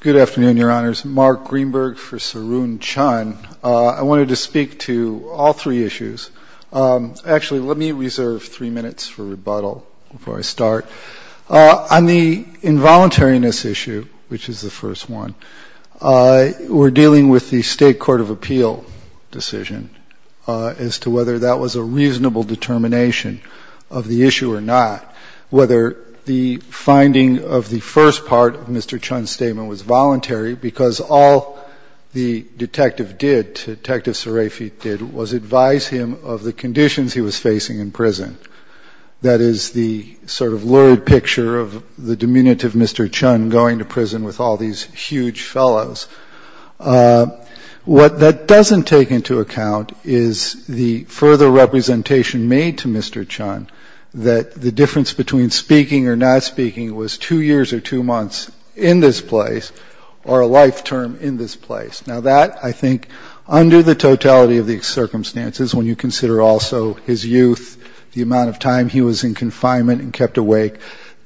Good afternoon, Your Honors. Mark Greenberg for Sarun Chun. I wanted to speak to all three issues. Actually, let me reserve three minutes for rebuttal before I start. On the involuntariness issue, which is the first one, we're dealing with the State Court of Appeal decision as to whether that was a reasonable determination of the issue or not, whether the finding of the first part of Mr. Chun's statement was voluntary because all the detective did, Detective Serafit did, was advise him of the conditions he was facing in prison. That is the sort of picture of the diminutive Mr. Chun going to prison with all these huge fellows. What that doesn't take into account is the further representation made to Mr. Chun that the difference between speaking or not speaking was two years or two months in this place or a life term in this place. Now that, I think, under the totality of the circumstances, when you consider also his youth, the amount of time he was in confinement and kept awake,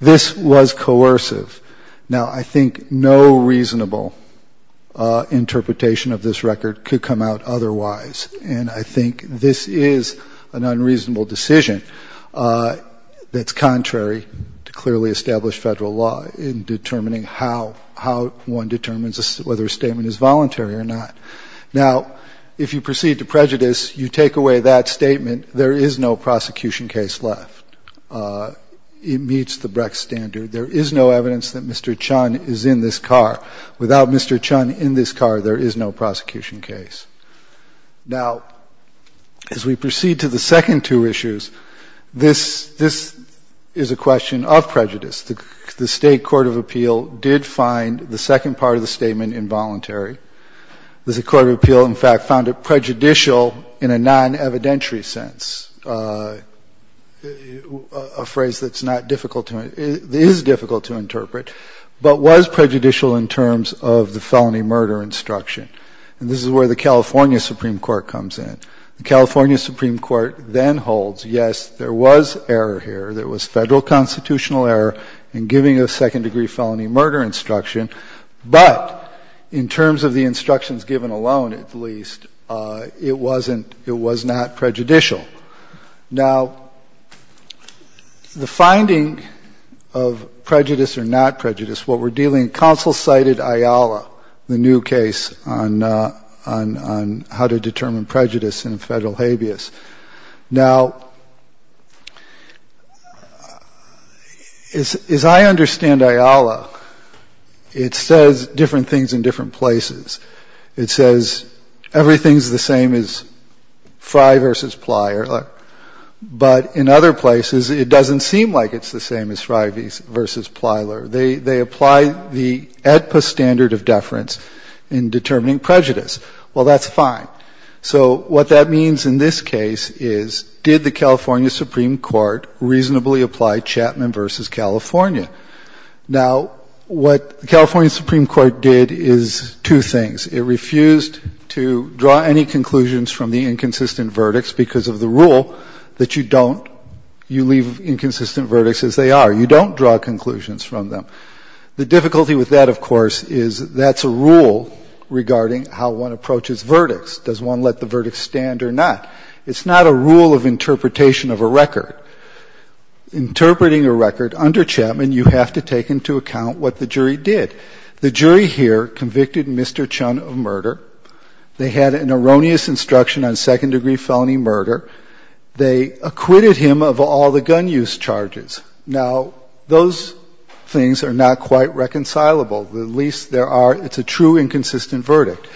this was coercive. Now, I think no reasonable interpretation of this record could come out otherwise. And I think this is an unreasonable decision that's contrary to clearly established federal law in determining how one determines whether a statement is voluntary or not. Now, if you there is no prosecution case left. It meets the Brex standard. There is no evidence that Mr. Chun is in this car. Without Mr. Chun in this car, there is no prosecution case. Now, as we proceed to the second two issues, this is a question of prejudice. The State Court of Appeal did find the second part of the statement involuntary. The Court of Appeal, in fact, found it prejudicial in a non-evidentiary sense, a phrase that is difficult to interpret, but was prejudicial in terms of the felony murder instruction. And this is where the California Supreme Court comes in. The California Supreme Court then holds, yes, there was error here. There was federal constitutional error in giving a second-degree felony murder instruction. But in terms of the instructions given alone, at least, it wasn't — it was not prejudicial. Now, the finding of prejudice or not prejudice, what we're dealing — counsel cited IALA, the new case on how to determine prejudice in a federal habeas. Now, as I understand IALA, it says different things in different places. It says everything's the same as Frye v. Plyler, but in other places, it doesn't seem like it's the same as Frye v. Plyler. They apply the AEDPA standard of deference in determining prejudice. Well, that's fine. So what that means in this case is, did the California Supreme Court reasonably apply Chapman v. California? Now, what the California Supreme Court did is two things. It refused to draw any conclusions from the inconsistent verdicts because of the rule that you don't — you leave inconsistent verdicts as they are. You don't draw conclusions from them. The difficulty with that, of course, is that's a rule regarding how one approaches verdicts. Does one let the verdict stand or not? It's not a rule of interpretation of a record. Interpreting a record under Chapman, you have to take into account what the jury did. The jury here convicted Mr. Chun of murder. They had an erroneous instruction on second-degree felony murder. They acquitted him of all the gun use charges. Now, those things are not quite reconcilable. At least there are — it's a true inconsistent verdict.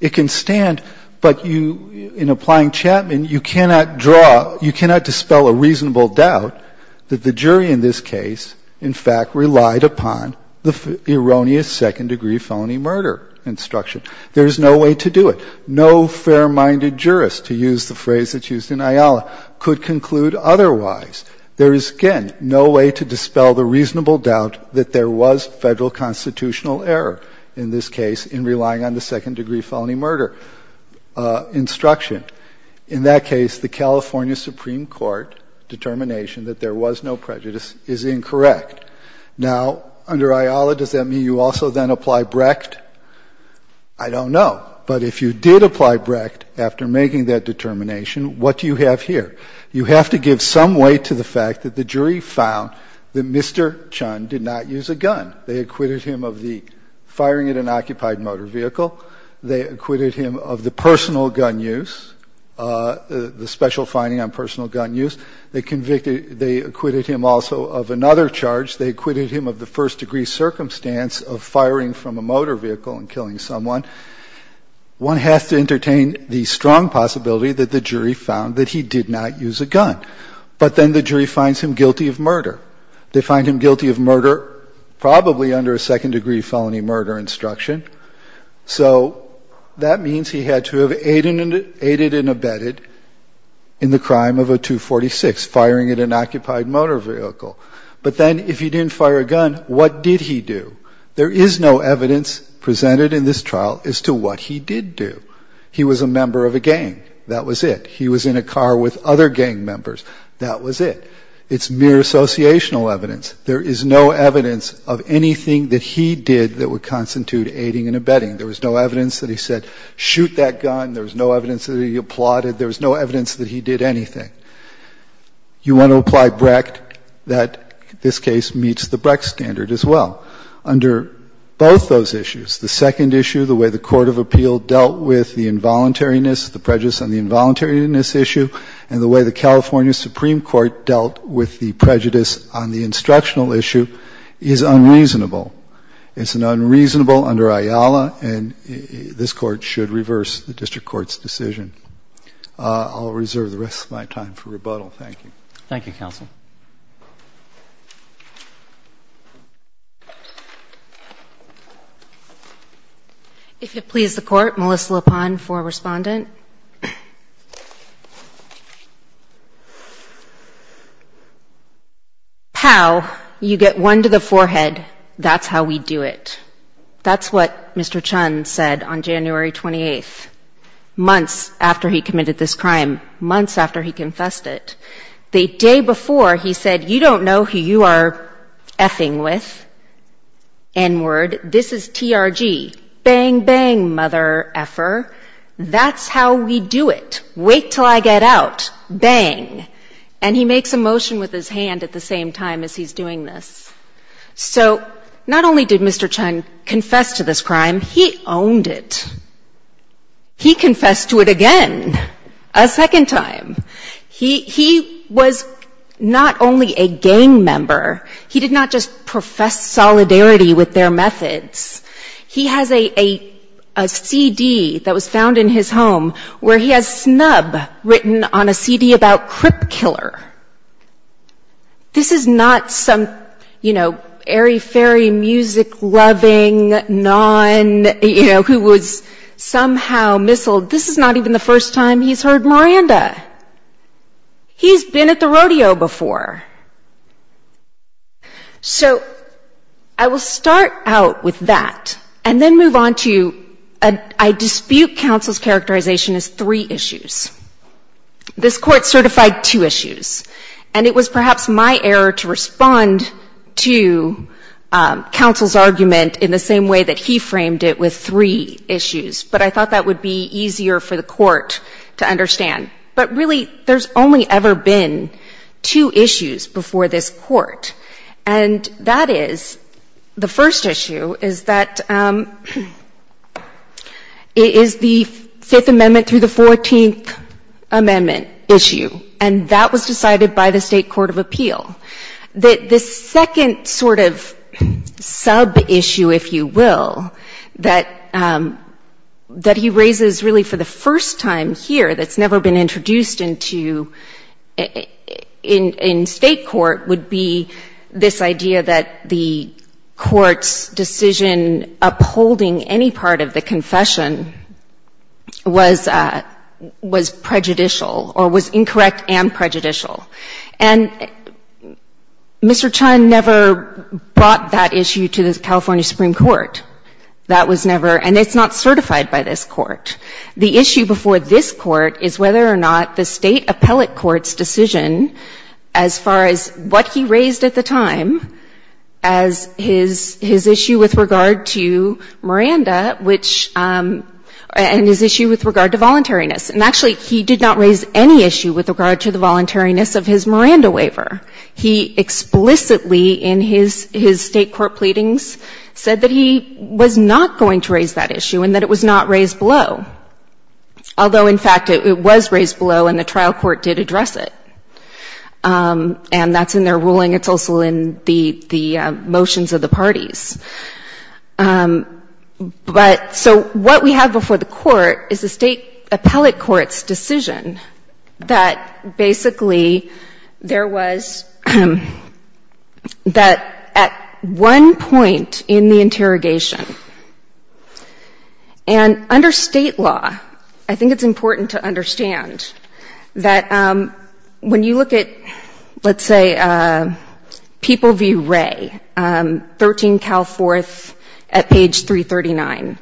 It can stand, but you — in applying Chapman, you cannot draw — you cannot dispel a reasonable doubt that the jury in this case, in fact, relied upon the erroneous second-degree felony murder instruction. There's no way to do it. No fair-minded jurist, to use the phrase that's used in Ayala, could conclude otherwise. There is, again, no way to dispel the reasonable doubt that there was Federal constitutional error in this case in relying on the second-degree felony murder instruction. In that case, the California Supreme Court determination that there was no prejudice is incorrect. Now, under Ayala, does that mean you also then apply Brecht? I don't know. But if you did apply Brecht after making that determination, what do you have here? You have to give some weight to the fact that the jury found that Mr. Chun did not use a gun. They acquitted him of the firing at an occupied motor vehicle. They acquitted him of the personal gun use, the special finding on personal gun use. They convicted — they acquitted him also of another charge. They acquitted him of the first-degree circumstance of firing from a motor vehicle and killing someone. One has to entertain the strong possibility that the jury found that he did not use a gun. But then the jury finds him guilty of murder. They find him guilty of murder probably under a second-degree felony murder instruction. So that means he had to have aided and abetted in the crime of a 246, firing at an occupied motor vehicle. But then, if he didn't fire a gun, what did he do? There is no evidence presented in this trial as to what he did do. He was a member of a gang. That was it. He was in a car with other gang members. That was it. It's mere associational evidence. There is no evidence of anything that he did that would constitute aiding and abetting. There was no evidence that he said, shoot that gun. There was no evidence that he applauded. There was no evidence that he meets the Brex standard as well. Under both those issues, the second issue, the way the court of appeal dealt with the involuntariness, the prejudice on the involuntariness issue, and the way the California Supreme Court dealt with the prejudice on the instructional issue, is unreasonable. It's unreasonable under IALA, and this Court should reverse the district court's decision. I'll reserve the rest of my time for rebuttal. Thank you. Thank you, Counsel. If it please the Court, Melissa LaPone for Respondent. How you get one to the forehead, that's how we do it. That's what Mr. Chun said on January 28th, months after he committed this crime, months after he confessed it. The day before, he said, you don't know who you are F-ing with, N-word. This is TRG. Bang, bang, mother F-er. That's how we do it. Wait till I get out. Bang. And he makes a motion with his hand at the same time as he's doing this. So not only did Mr. Chun confess to this crime, he owned it. He confessed to it again, a second time. He was not only a gang member, he did not just profess solidarity with their methods. He has a CD that was found in his home where he has Snub written on a CD about Crip Killer. This is not some, you know, airy-fairy music-loving nun, you know, who was somehow missiled. This is not even the first time he's heard Miranda. He's been at the rodeo before. So I will start out with that and then move on to a dispute counsel's characterization as three issues. This Court certified two issues, and it was perhaps my error to respond to counsel's argument in the same way that he framed it with three issues, but I thought that would be easier for the Court to understand. But really, there's only ever been two issues before this Court, and that is, the first issue is that it is the Fifth Amendment of the Constitution, and that was decided by the State Court of Appeal. The second sort of sub-issue, if you will, that he raises really for the first time here that's never been introduced into in State court would be this idea that the Court's decision upholding any part of the confession was prejudicial or was incorrect and prejudicial. And Mr. Chun never brought that issue to the California Supreme Court. That was never and it's not certified by this Court. The issue before this Court is whether or not the State appellate court's decision as far as what he raised at the time as his issue with regard to Miranda, which and his issue with regard to voluntariness. And actually, he did not raise any issue with regard to the voluntariness of his Miranda waiver. He explicitly in his State court pleadings said that he was not going to raise that issue and that it was not raised below, although, in fact, it was raised below and the trial court did address it. And that's in their ruling. It's also in the motions of the parties. But so what we have before the Court is the State appellate court's decision that basically there was that at one point in the interrogation, and under State law, I think it's important to understand that when you look at, let's say, People v. Wray, 13 Cal 4, 3, and 4, at page 339,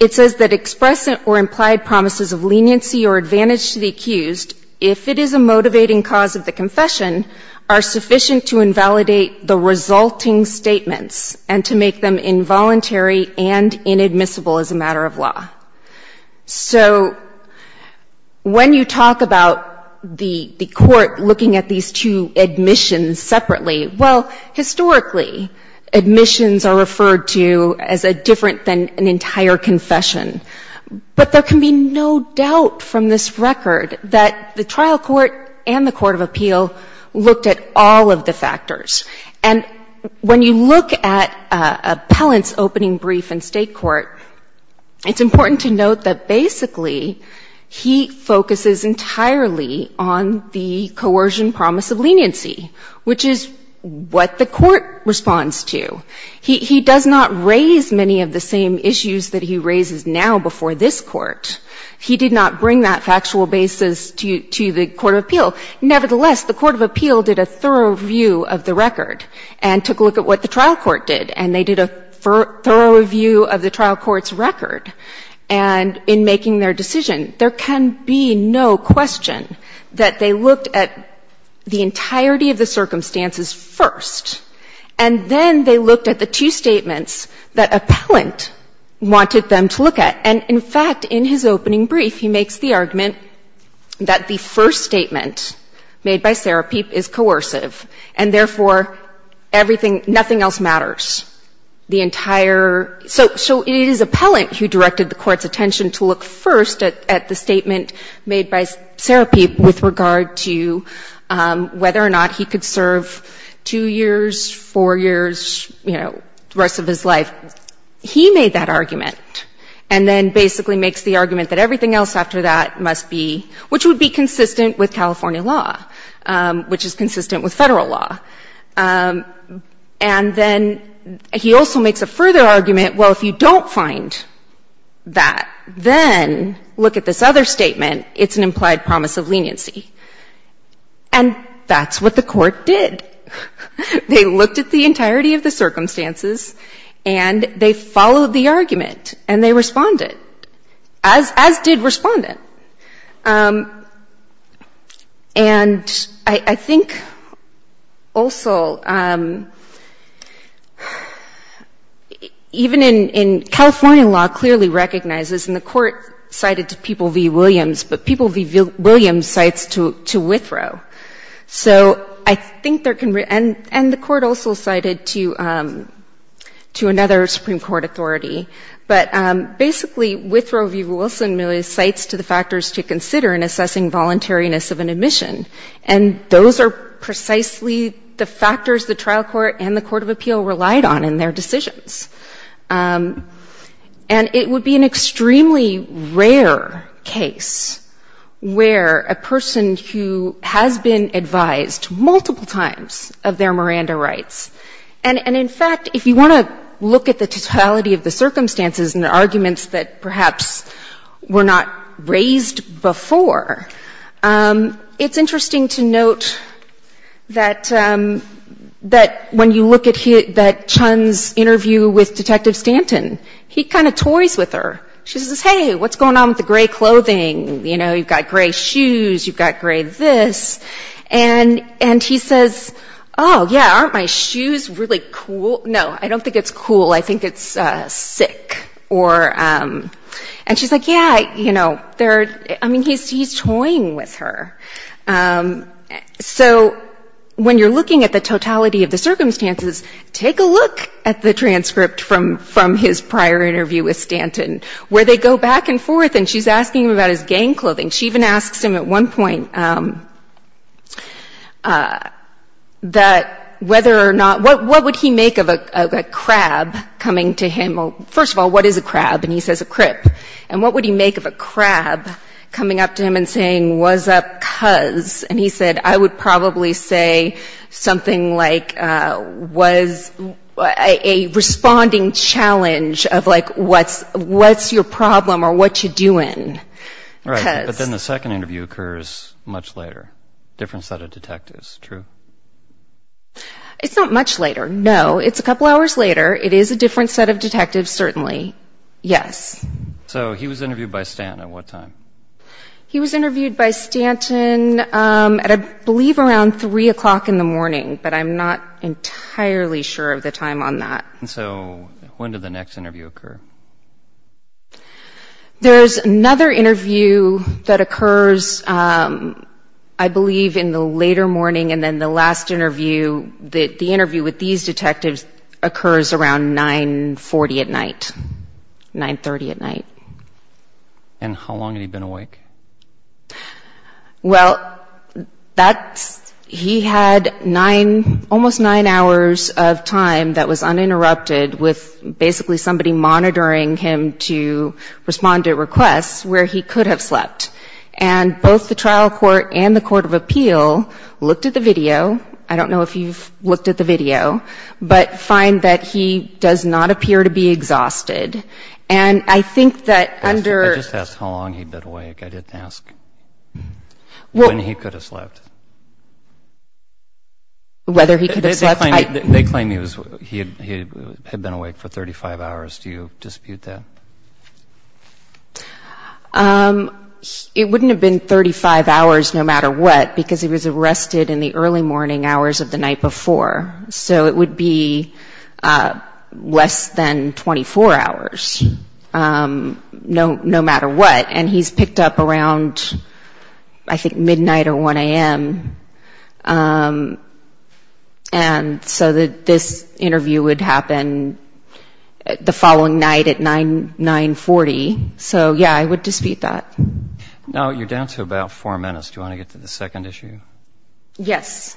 it says that express or implied promises of leniency or advantage to the accused, if it is a motivating cause of the confession, are sufficient to invalidate the resulting statements and to make them involuntary and inadmissible as a matter of law. So when you talk about the Court looking at these two admissions separately, well, historically, admissions are referred to as different than an entire confession. But there can be no doubt from this record that the trial court and the court of appeal looked at all of the factors. And when you look at appellant's opening brief in State court, it's important to note that basically he focuses entirely on the coercion promise of leniency, which is what the Court responds to. He does not raise many of the same issues that he raises now before this Court. He did not bring that factual basis to the court of appeal. Nevertheless, the court of appeal did a thorough review of the record and took a look at what the trial court did, and they did a thorough review of the trial court's record. And in making their decision, there can be no question that they looked at the entirety of the circumstances first, and then they looked at the two statements that appellant wanted them to look at. And in fact, in his opening brief, he makes the argument that the first statement made by Serapeep is coercive, and therefore, everything, nothing else matters. The entire — so it is appellant who directed the Court's attention to look first at the statement made by Serapeep with regard to whether or not he could serve two years, four years, you know, the rest of his life. He made that argument and then basically makes the argument that everything else after that must be — which would be consistent with California law, which is consistent with Federal law. And then he also makes a further argument, well, if you don't find that, then look at this other statement. It's an implied promise of leniency. And that's what the Court did. They looked at the entirety of the circumstances, and they followed the argument, and they responded, as did Respondent. And I think also even in — California law clearly recognizes — and the Court cited People v. Williams, but People v. Williams cites to Withrow. So I think there can — and the Court also cited to another Supreme Court authority. But basically Withrow v. Wilson really cites to the factors to consider in assessing voluntariness of an admission. And those are precisely the factors the trial court and the court of appeal relied on in their decisions. And it would be an extremely rare case where a person who has been advised multiple times of their Miranda rights — and, in fact, if you want to look at the totality of the circumstances and the arguments that perhaps were not raised before, it's interesting to note that when you look at Chun's interview with Detective Stanton, he kind of toys with her. She says, hey, what's going on with the gray clothing? You know, you've got gray shoes, you've got gray this. And he says, oh, yeah, aren't my shoes really cool? No, I don't think it's cool. I think it's sick. And she's like, yeah, you know, there are — I mean, he's toying with her. So when you're looking at the totality of the circumstances, take a look at the transcript from his prior interview with Stanton, where they go back and forth, and she's asking him about his gang clothing. She even asks him at one point that whether or not — what would he make of a crab coming to him — first of all, what is a crab? And he says, a crip. And what would he make of a crab coming up to him and saying, what's up, cuz? And he said, I would probably say something like, was a responding challenge of, like, what's your problem or what you doing? Right. But then the second interview occurs much later, different set of detectives. True? It's not much later. No, it's a couple hours later. It is a different set of detectives, certainly. Yes. So he was interviewed by Stanton at what time? He was interviewed by Stanton at, I believe, around 3 o'clock in the morning, but I'm not entirely sure of the time on that. So when did the next interview occur? There's another interview that occurs, I believe, in the later morning, and then the last interview, the interview with these detectives, occurs around 9.40 at night, 9.30 at night. And how long had he been awake? Well, that's — he had nine, almost nine hours of time that was uninterrupted with basically somebody monitoring him to respond to requests where he could have slept. And both the trial court and the Court of Appeal looked at the video. I don't know if you've looked at the video, but find that he does not appear to be exhausted. And I think that under — I just asked how long he'd been awake. I didn't ask when he could have slept. Whether he could have slept, I — 35 hours. Do you dispute that? It wouldn't have been 35 hours no matter what, because he was arrested in the early morning hours of the night before. So it would be less than 24 hours, no matter what. And he's picked up around, I think, midnight or 1 a.m. And so this interview would happen the following night at 9.40. So, yeah, I would dispute that. Now you're down to about four minutes. Do you want to get to the second issue? Yes.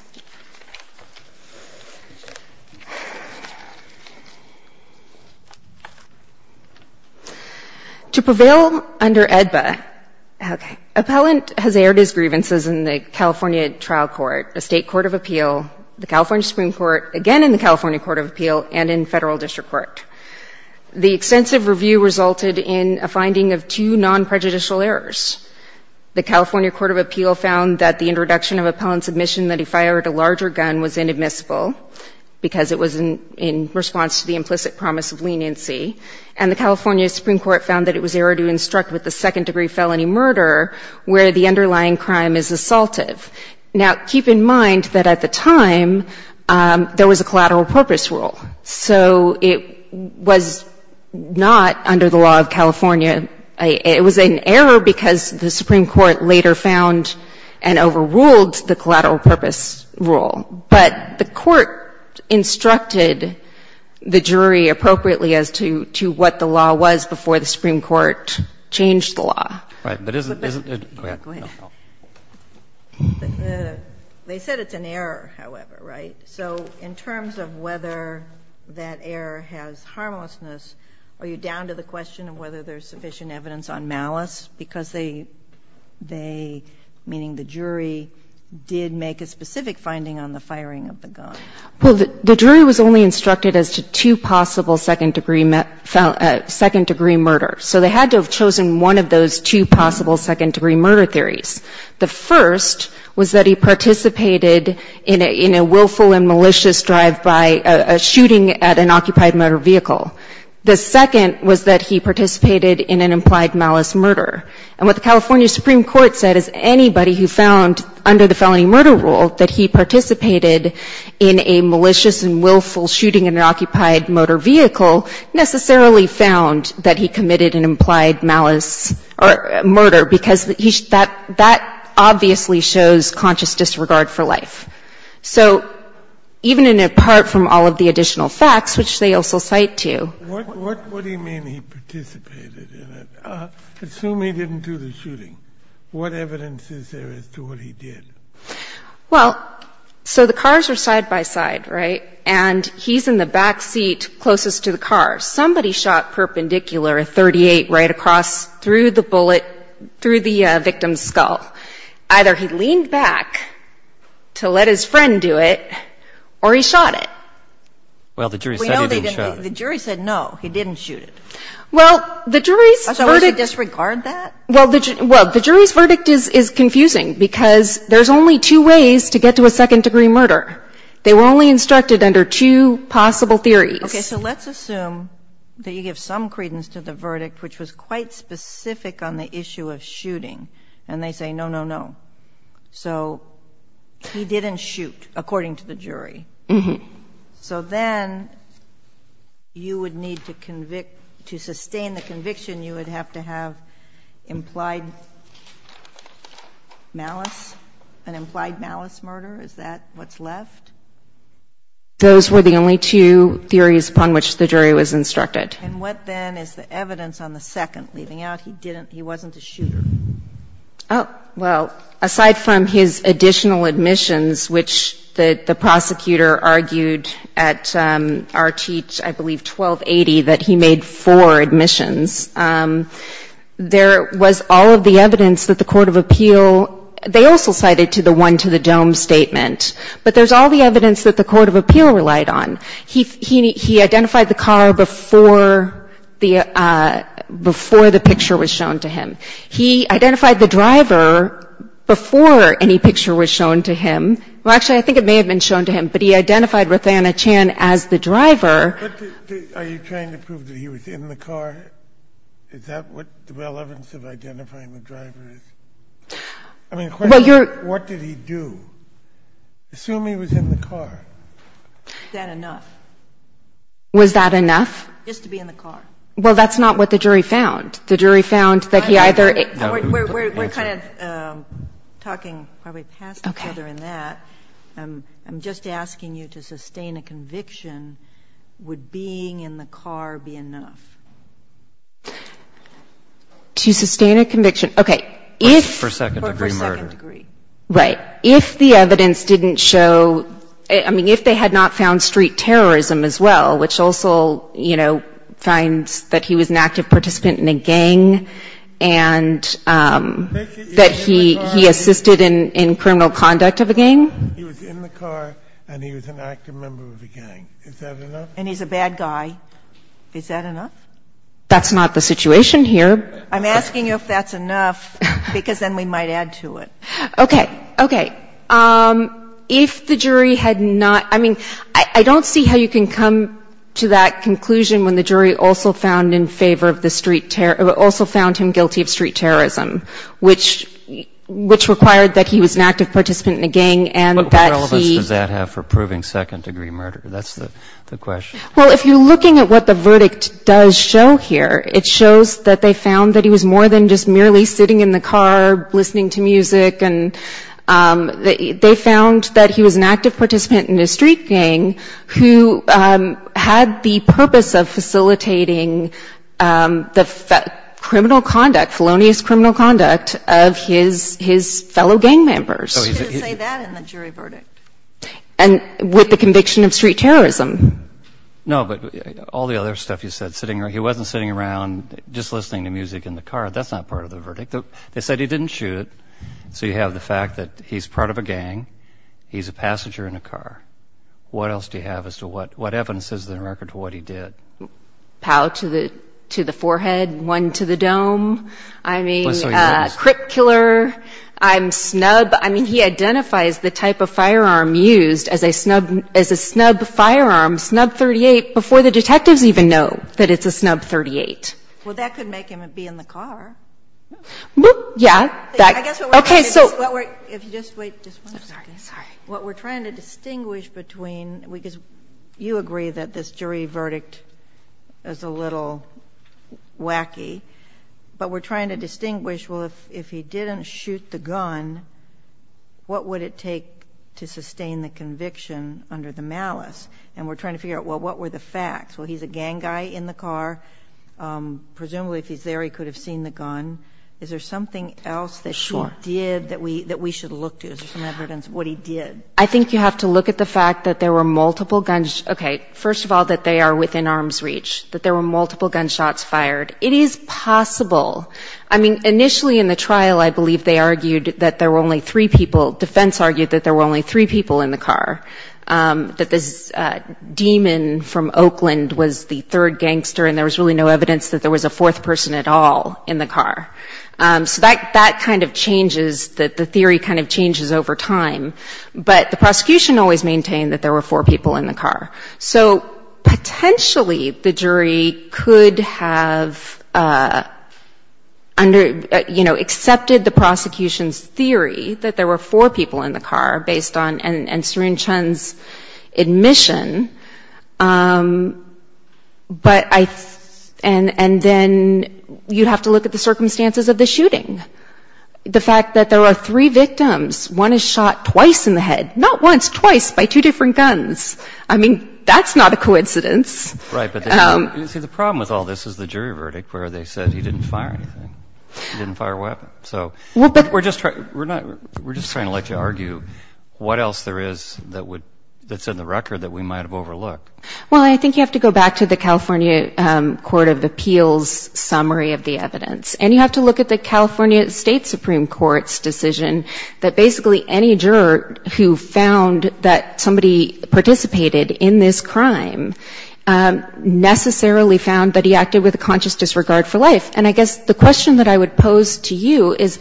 To prevail under AEDBA — okay. Appellant has aired his grievances in the California Trial Court, the State Court of Appeal, the California Supreme Court, again in the California Court of Appeal, and in Federal District Court. The extensive review resulted in a finding of two non-prejudicial errors. The California Court of Appeal found that the introduction of appellant's admission that he fired a larger gun was inadmissible because it was in response to the implicit promise of leniency. And the California Supreme Court found that it was error to instruct with a second-degree felony murder where the underlying crime is assaultive. Now, keep in mind that at the time, there was a collateral purpose rule. So it was not under the law of California. It was an error because the Supreme Court later found and overruled the collateral purpose rule. But the court instructed the jury appropriately as to what the law was before the Supreme Court changed the law. Right. But isn't — go ahead. They said it's an error, however, right? So in terms of whether that error has harmlessness, are you down to the question of whether there's sufficient evidence on malice? Because they — they, meaning the jury, did make a specific finding on the firing of the gun. Well, the jury was only instructed as to two possible second-degree — second-degree murder. So they had to have chosen one of those two possible second-degree murder theories. The first was that he participated in a — in a willful and malicious drive by a — a shooting at an occupied motor vehicle. The second was that he participated in an implied malice murder. And what the California Supreme Court said is anybody who found under the felony murder rule that he participated in a malicious and willful shooting at an occupied motor vehicle necessarily found that he committed an implied malice or murder, because he — that — that obviously shows conscious disregard for life. So even in a part from all of the additional facts, which they also cite to — What — what — what do you mean he participated in it? Assume he didn't do the shooting. What evidence is there as to what he did? Well, so the cars are side-by-side, right? And he's in the back seat closest to the car. Somebody shot perpendicular, a .38, right across through the bullet, through the victim's skull. Either he leaned back to let his friend do it, or he shot it. Well, the jury said he didn't shoot it. We know they didn't — the jury said no, he didn't shoot it. Well, the jury's verdict — So is it disregard that? Well, the jury's verdict is confusing, because there's only two ways to get to a second-degree murder. They were only instructed under two possible theories. Okay. So let's assume that you give some credence to the verdict, which was quite specific on the issue of shooting, and they say, no, no, no. So he didn't shoot, according to the jury. Mm-hmm. So then you would need to convict — to sustain the conviction, you would have to have implied malice, an implied malice murder. Is that what's left? Those were the only two theories upon which the jury was instructed. And what, then, is the evidence on the second, leaving out he didn't — he wasn't a shooter? Oh, well, aside from his additional admissions, which the prosecutor argued at Arteet, I believe, 1280, that he made four admissions, there was all of the evidence that the Court of Appeal — they also cited to the one-to-the-dome statement, but there's all the evidence that the Court of Appeal relied on. He identified the car before the — before the picture was shown to him. He identified the driver before any picture was shown to him. Well, actually, I think it may have been shown to him, but he identified Ruthanna Chan as the driver. Are you trying to prove that he was in the car? Is that what the relevance of identifying the driver is? I mean, what did he do? Assume he was in the car. Is that enough? Was that enough? Just to be in the car. Well, that's not what the jury found. The jury found that he either — We're kind of talking probably past each other in that. Okay. I'm just asking you to sustain a conviction. Would being in the car be enough? To sustain a conviction. Okay. If — For a second-degree murder. Right. If the evidence didn't show — I mean, if they had not found street terrorism as well, which also, you know, finds that he was an active participant in a gang and that he assisted in criminal conduct of a gang. He was in the car and he was an active member of a gang. Is that enough? And he's a bad guy. Is that enough? That's not the situation here. I'm asking you if that's enough, because then we might add to it. Okay. Okay. If the jury had not — I mean, I don't see how you can come to that conclusion when the jury also found in favor of the street — also found him guilty of street What relevance does that have for proving second-degree murder? That's the question. Well, if you're looking at what the verdict does show here, it shows that they found that he was more than just merely sitting in the car, listening to music, and they found that he was an active participant in a street gang who had the purpose of facilitating the criminal conduct — felonious criminal conduct of his fellow gang members. You didn't say that in the jury verdict. And with the conviction of street terrorism. No, but all the other stuff you said — sitting — he wasn't sitting around just listening to music in the car. That's not part of the verdict. They said he didn't shoot. So you have the fact that he's part of a gang. He's a passenger in a car. What else do you have as to what evidence is there to record what he did? Pow to the forehead, one to the dome. I mean, a crip killer. I'm snubbed. I mean, he identifies the type of firearm used as a snub — as a snub firearm, snub 38, before the detectives even know that it's a snub 38. Well, that could make him be in the car. Yeah. OK, so — If you just wait just one second. What we're trying to distinguish between — because you agree that this jury verdict is a little wacky, but we're trying to distinguish, well, if he didn't shoot the gun, what would it take to sustain the conviction under the malice? And we're trying to figure out, well, what were the facts? Well, he's a gang guy in the car. Presumably, if he's there, he could have seen the gun. Is there something else that he did that we should look to? Is there some evidence of what he did? I think you have to look at the fact that there were multiple gun — OK, first of all, that they are within arm's reach, that there were multiple gunshots fired. It is possible. I mean, initially in the trial, I believe they argued that there were only three people — defense argued that there were only three people in the car, that this demon from Oakland was the third gangster, and there was really no evidence that there was a fourth person at all in the car. So that kind of changes — that the theory kind of changes over time. But the prosecution always maintained that there were four people in the car. So potentially, the jury could have under — you know, accepted the prosecution's theory that there were four people in the car, based on — and Serene Chun's admission. But I — and then you have to look at the circumstances of the shooting. The fact that there are three victims, one is shot twice in the head — not once, twice, by two different guns. I mean, that's not a coincidence. Right, but see, the problem with all this is the jury verdict, where they said he didn't fire anything, he didn't fire a weapon. So we're just — we're not — we're just trying to let you argue what else there is that would — that's in the record that we might have overlooked. Well, I think you have to go back to the California Court of Appeals summary of the evidence. And you have to look at the California State Supreme Court's decision that basically any juror who found that somebody participated in this crime necessarily found that he acted with a conscious disregard for life. And I guess the question that I would pose to you is,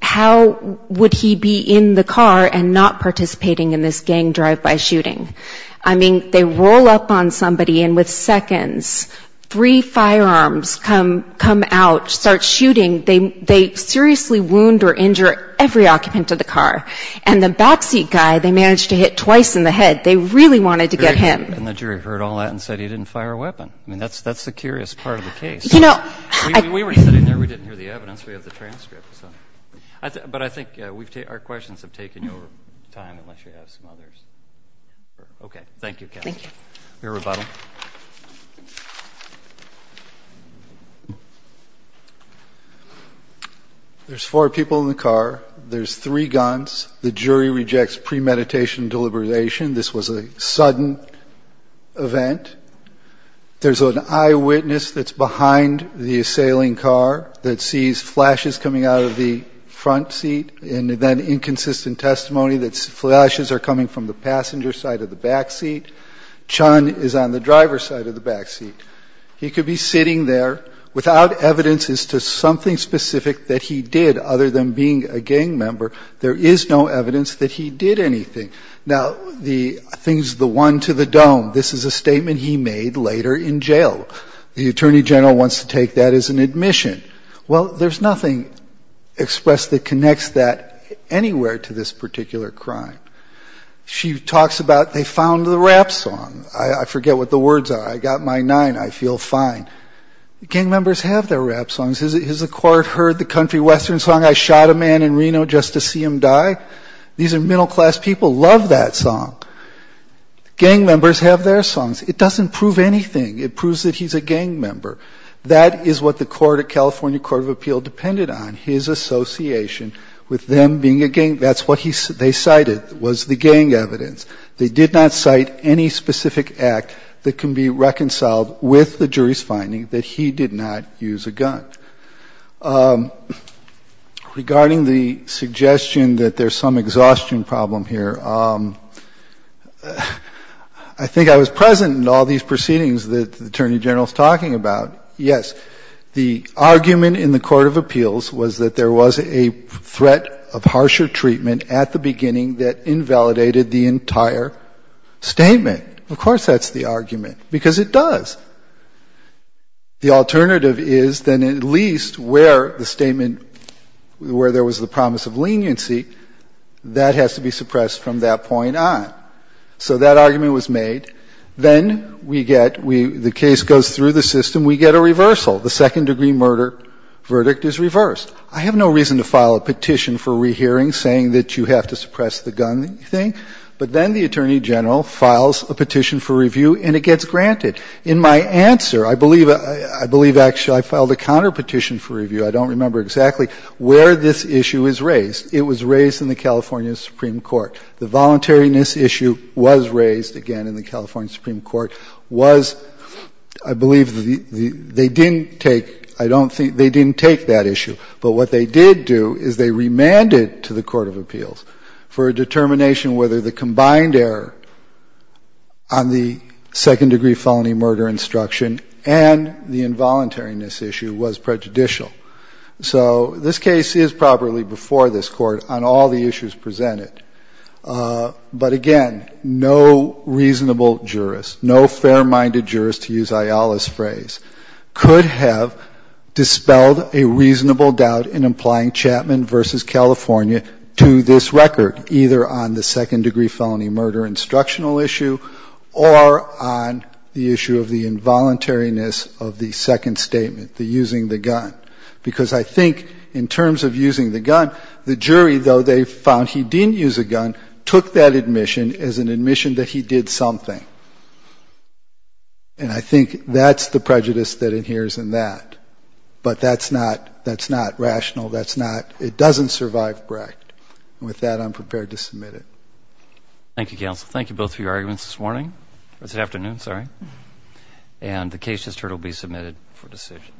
how would he be in the car and not participating in this gang drive-by shooting? I mean, they roll up on somebody, and with seconds, three firearms come out, start shooting. They seriously wound or injure every occupant of the car. And the backseat guy, they managed to hit twice in the head. They really wanted to get him. And the jury heard all that and said he didn't fire a weapon. I mean, that's the curious part of the case. You know — We were sitting there. We didn't hear the evidence. We have the transcript, so — but I think our questions have taken over time, unless you have some others. Okay. Thank you, Cassidy. Your rebuttal. There's four people in the car. There's three guns. The jury rejects premeditation deliberation. This was a sudden event. There's an eyewitness that's behind the assailing car that sees flashes coming out of the front seat, and then inconsistent testimony that flashes are coming from the passenger side of the backseat. Chun is on the driver's side of the backseat. He could be sitting there without evidence as to something specific that he did, other than being a gang member. There is no evidence that he did anything. Now, the — I think it's the one to the dome. This is a statement he made later in jail. The attorney general wants to take that as an admission. Well, there's nothing expressed that connects that anywhere to this particular crime. She talks about they found the rap song. I forget what the words are. I got my nine. I feel fine. Gang members have their rap songs. Has the court heard the country western song, I shot a man in Reno just to see him die? These are middle-class people. Love that song. Gang members have their songs. It doesn't prove anything. It proves that he's a gang member. That is what the court, the California Court of Appeal, depended on, his association with them being a gang. That's what they cited was the gang evidence. They did not cite any specific act that can be reconciled with the jury's finding that he did not use a gun. Regarding the suggestion that there's some exhaustion problem here, I think I was present in all these proceedings that the attorney general's talking about. Yes, the argument in the Court of Appeals was that there was a threat of harsher treatment at the beginning that invalidated the entire statement. Of course that's the argument, because it does. The alternative is then at least where the statement, where there was the promise of leniency, that has to be suppressed from that point on. So that argument was made. Then we get, the case goes through the system. We get a reversal. The second-degree murder verdict is reversed. I have no reason to file a petition for rehearing saying that you have to suppress the gun thing, but then the attorney general files a petition for review and it gets granted. In my answer, I believe actually I filed a counterpetition for review, I don't remember exactly, where this issue is raised. It was raised in the California Supreme Court. The voluntariness issue was raised, again, in the California Supreme Court, was I believe they didn't take, I don't think, they didn't take that issue. But what they did do is they remanded to the Court of Appeals for a determination whether the combined error on the second-degree felony murder instruction and the involuntariness issue was prejudicial. So this case is properly before this Court on all the issues presented. But again, no reasonable jurist, no fair-minded jurist, to use Ayala's phrase, could have dispelled a reasonable doubt in applying Chapman v. California to this record, either on the second-degree felony murder instructional issue or on the issue of the involuntariness of the second statement, the using the gun. Because I think in terms of using the gun, the jury, though they found he didn't use a gun, took that admission as an admission that he did something. And I think that's the prejudice that adheres in that. But that's not, that's not rational. That's not, it doesn't survive Brecht. And with that, I'm prepared to submit it. Thank you, counsel. Thank you both for your arguments this morning, or this afternoon, sorry. And the case just heard will be submitted for decision.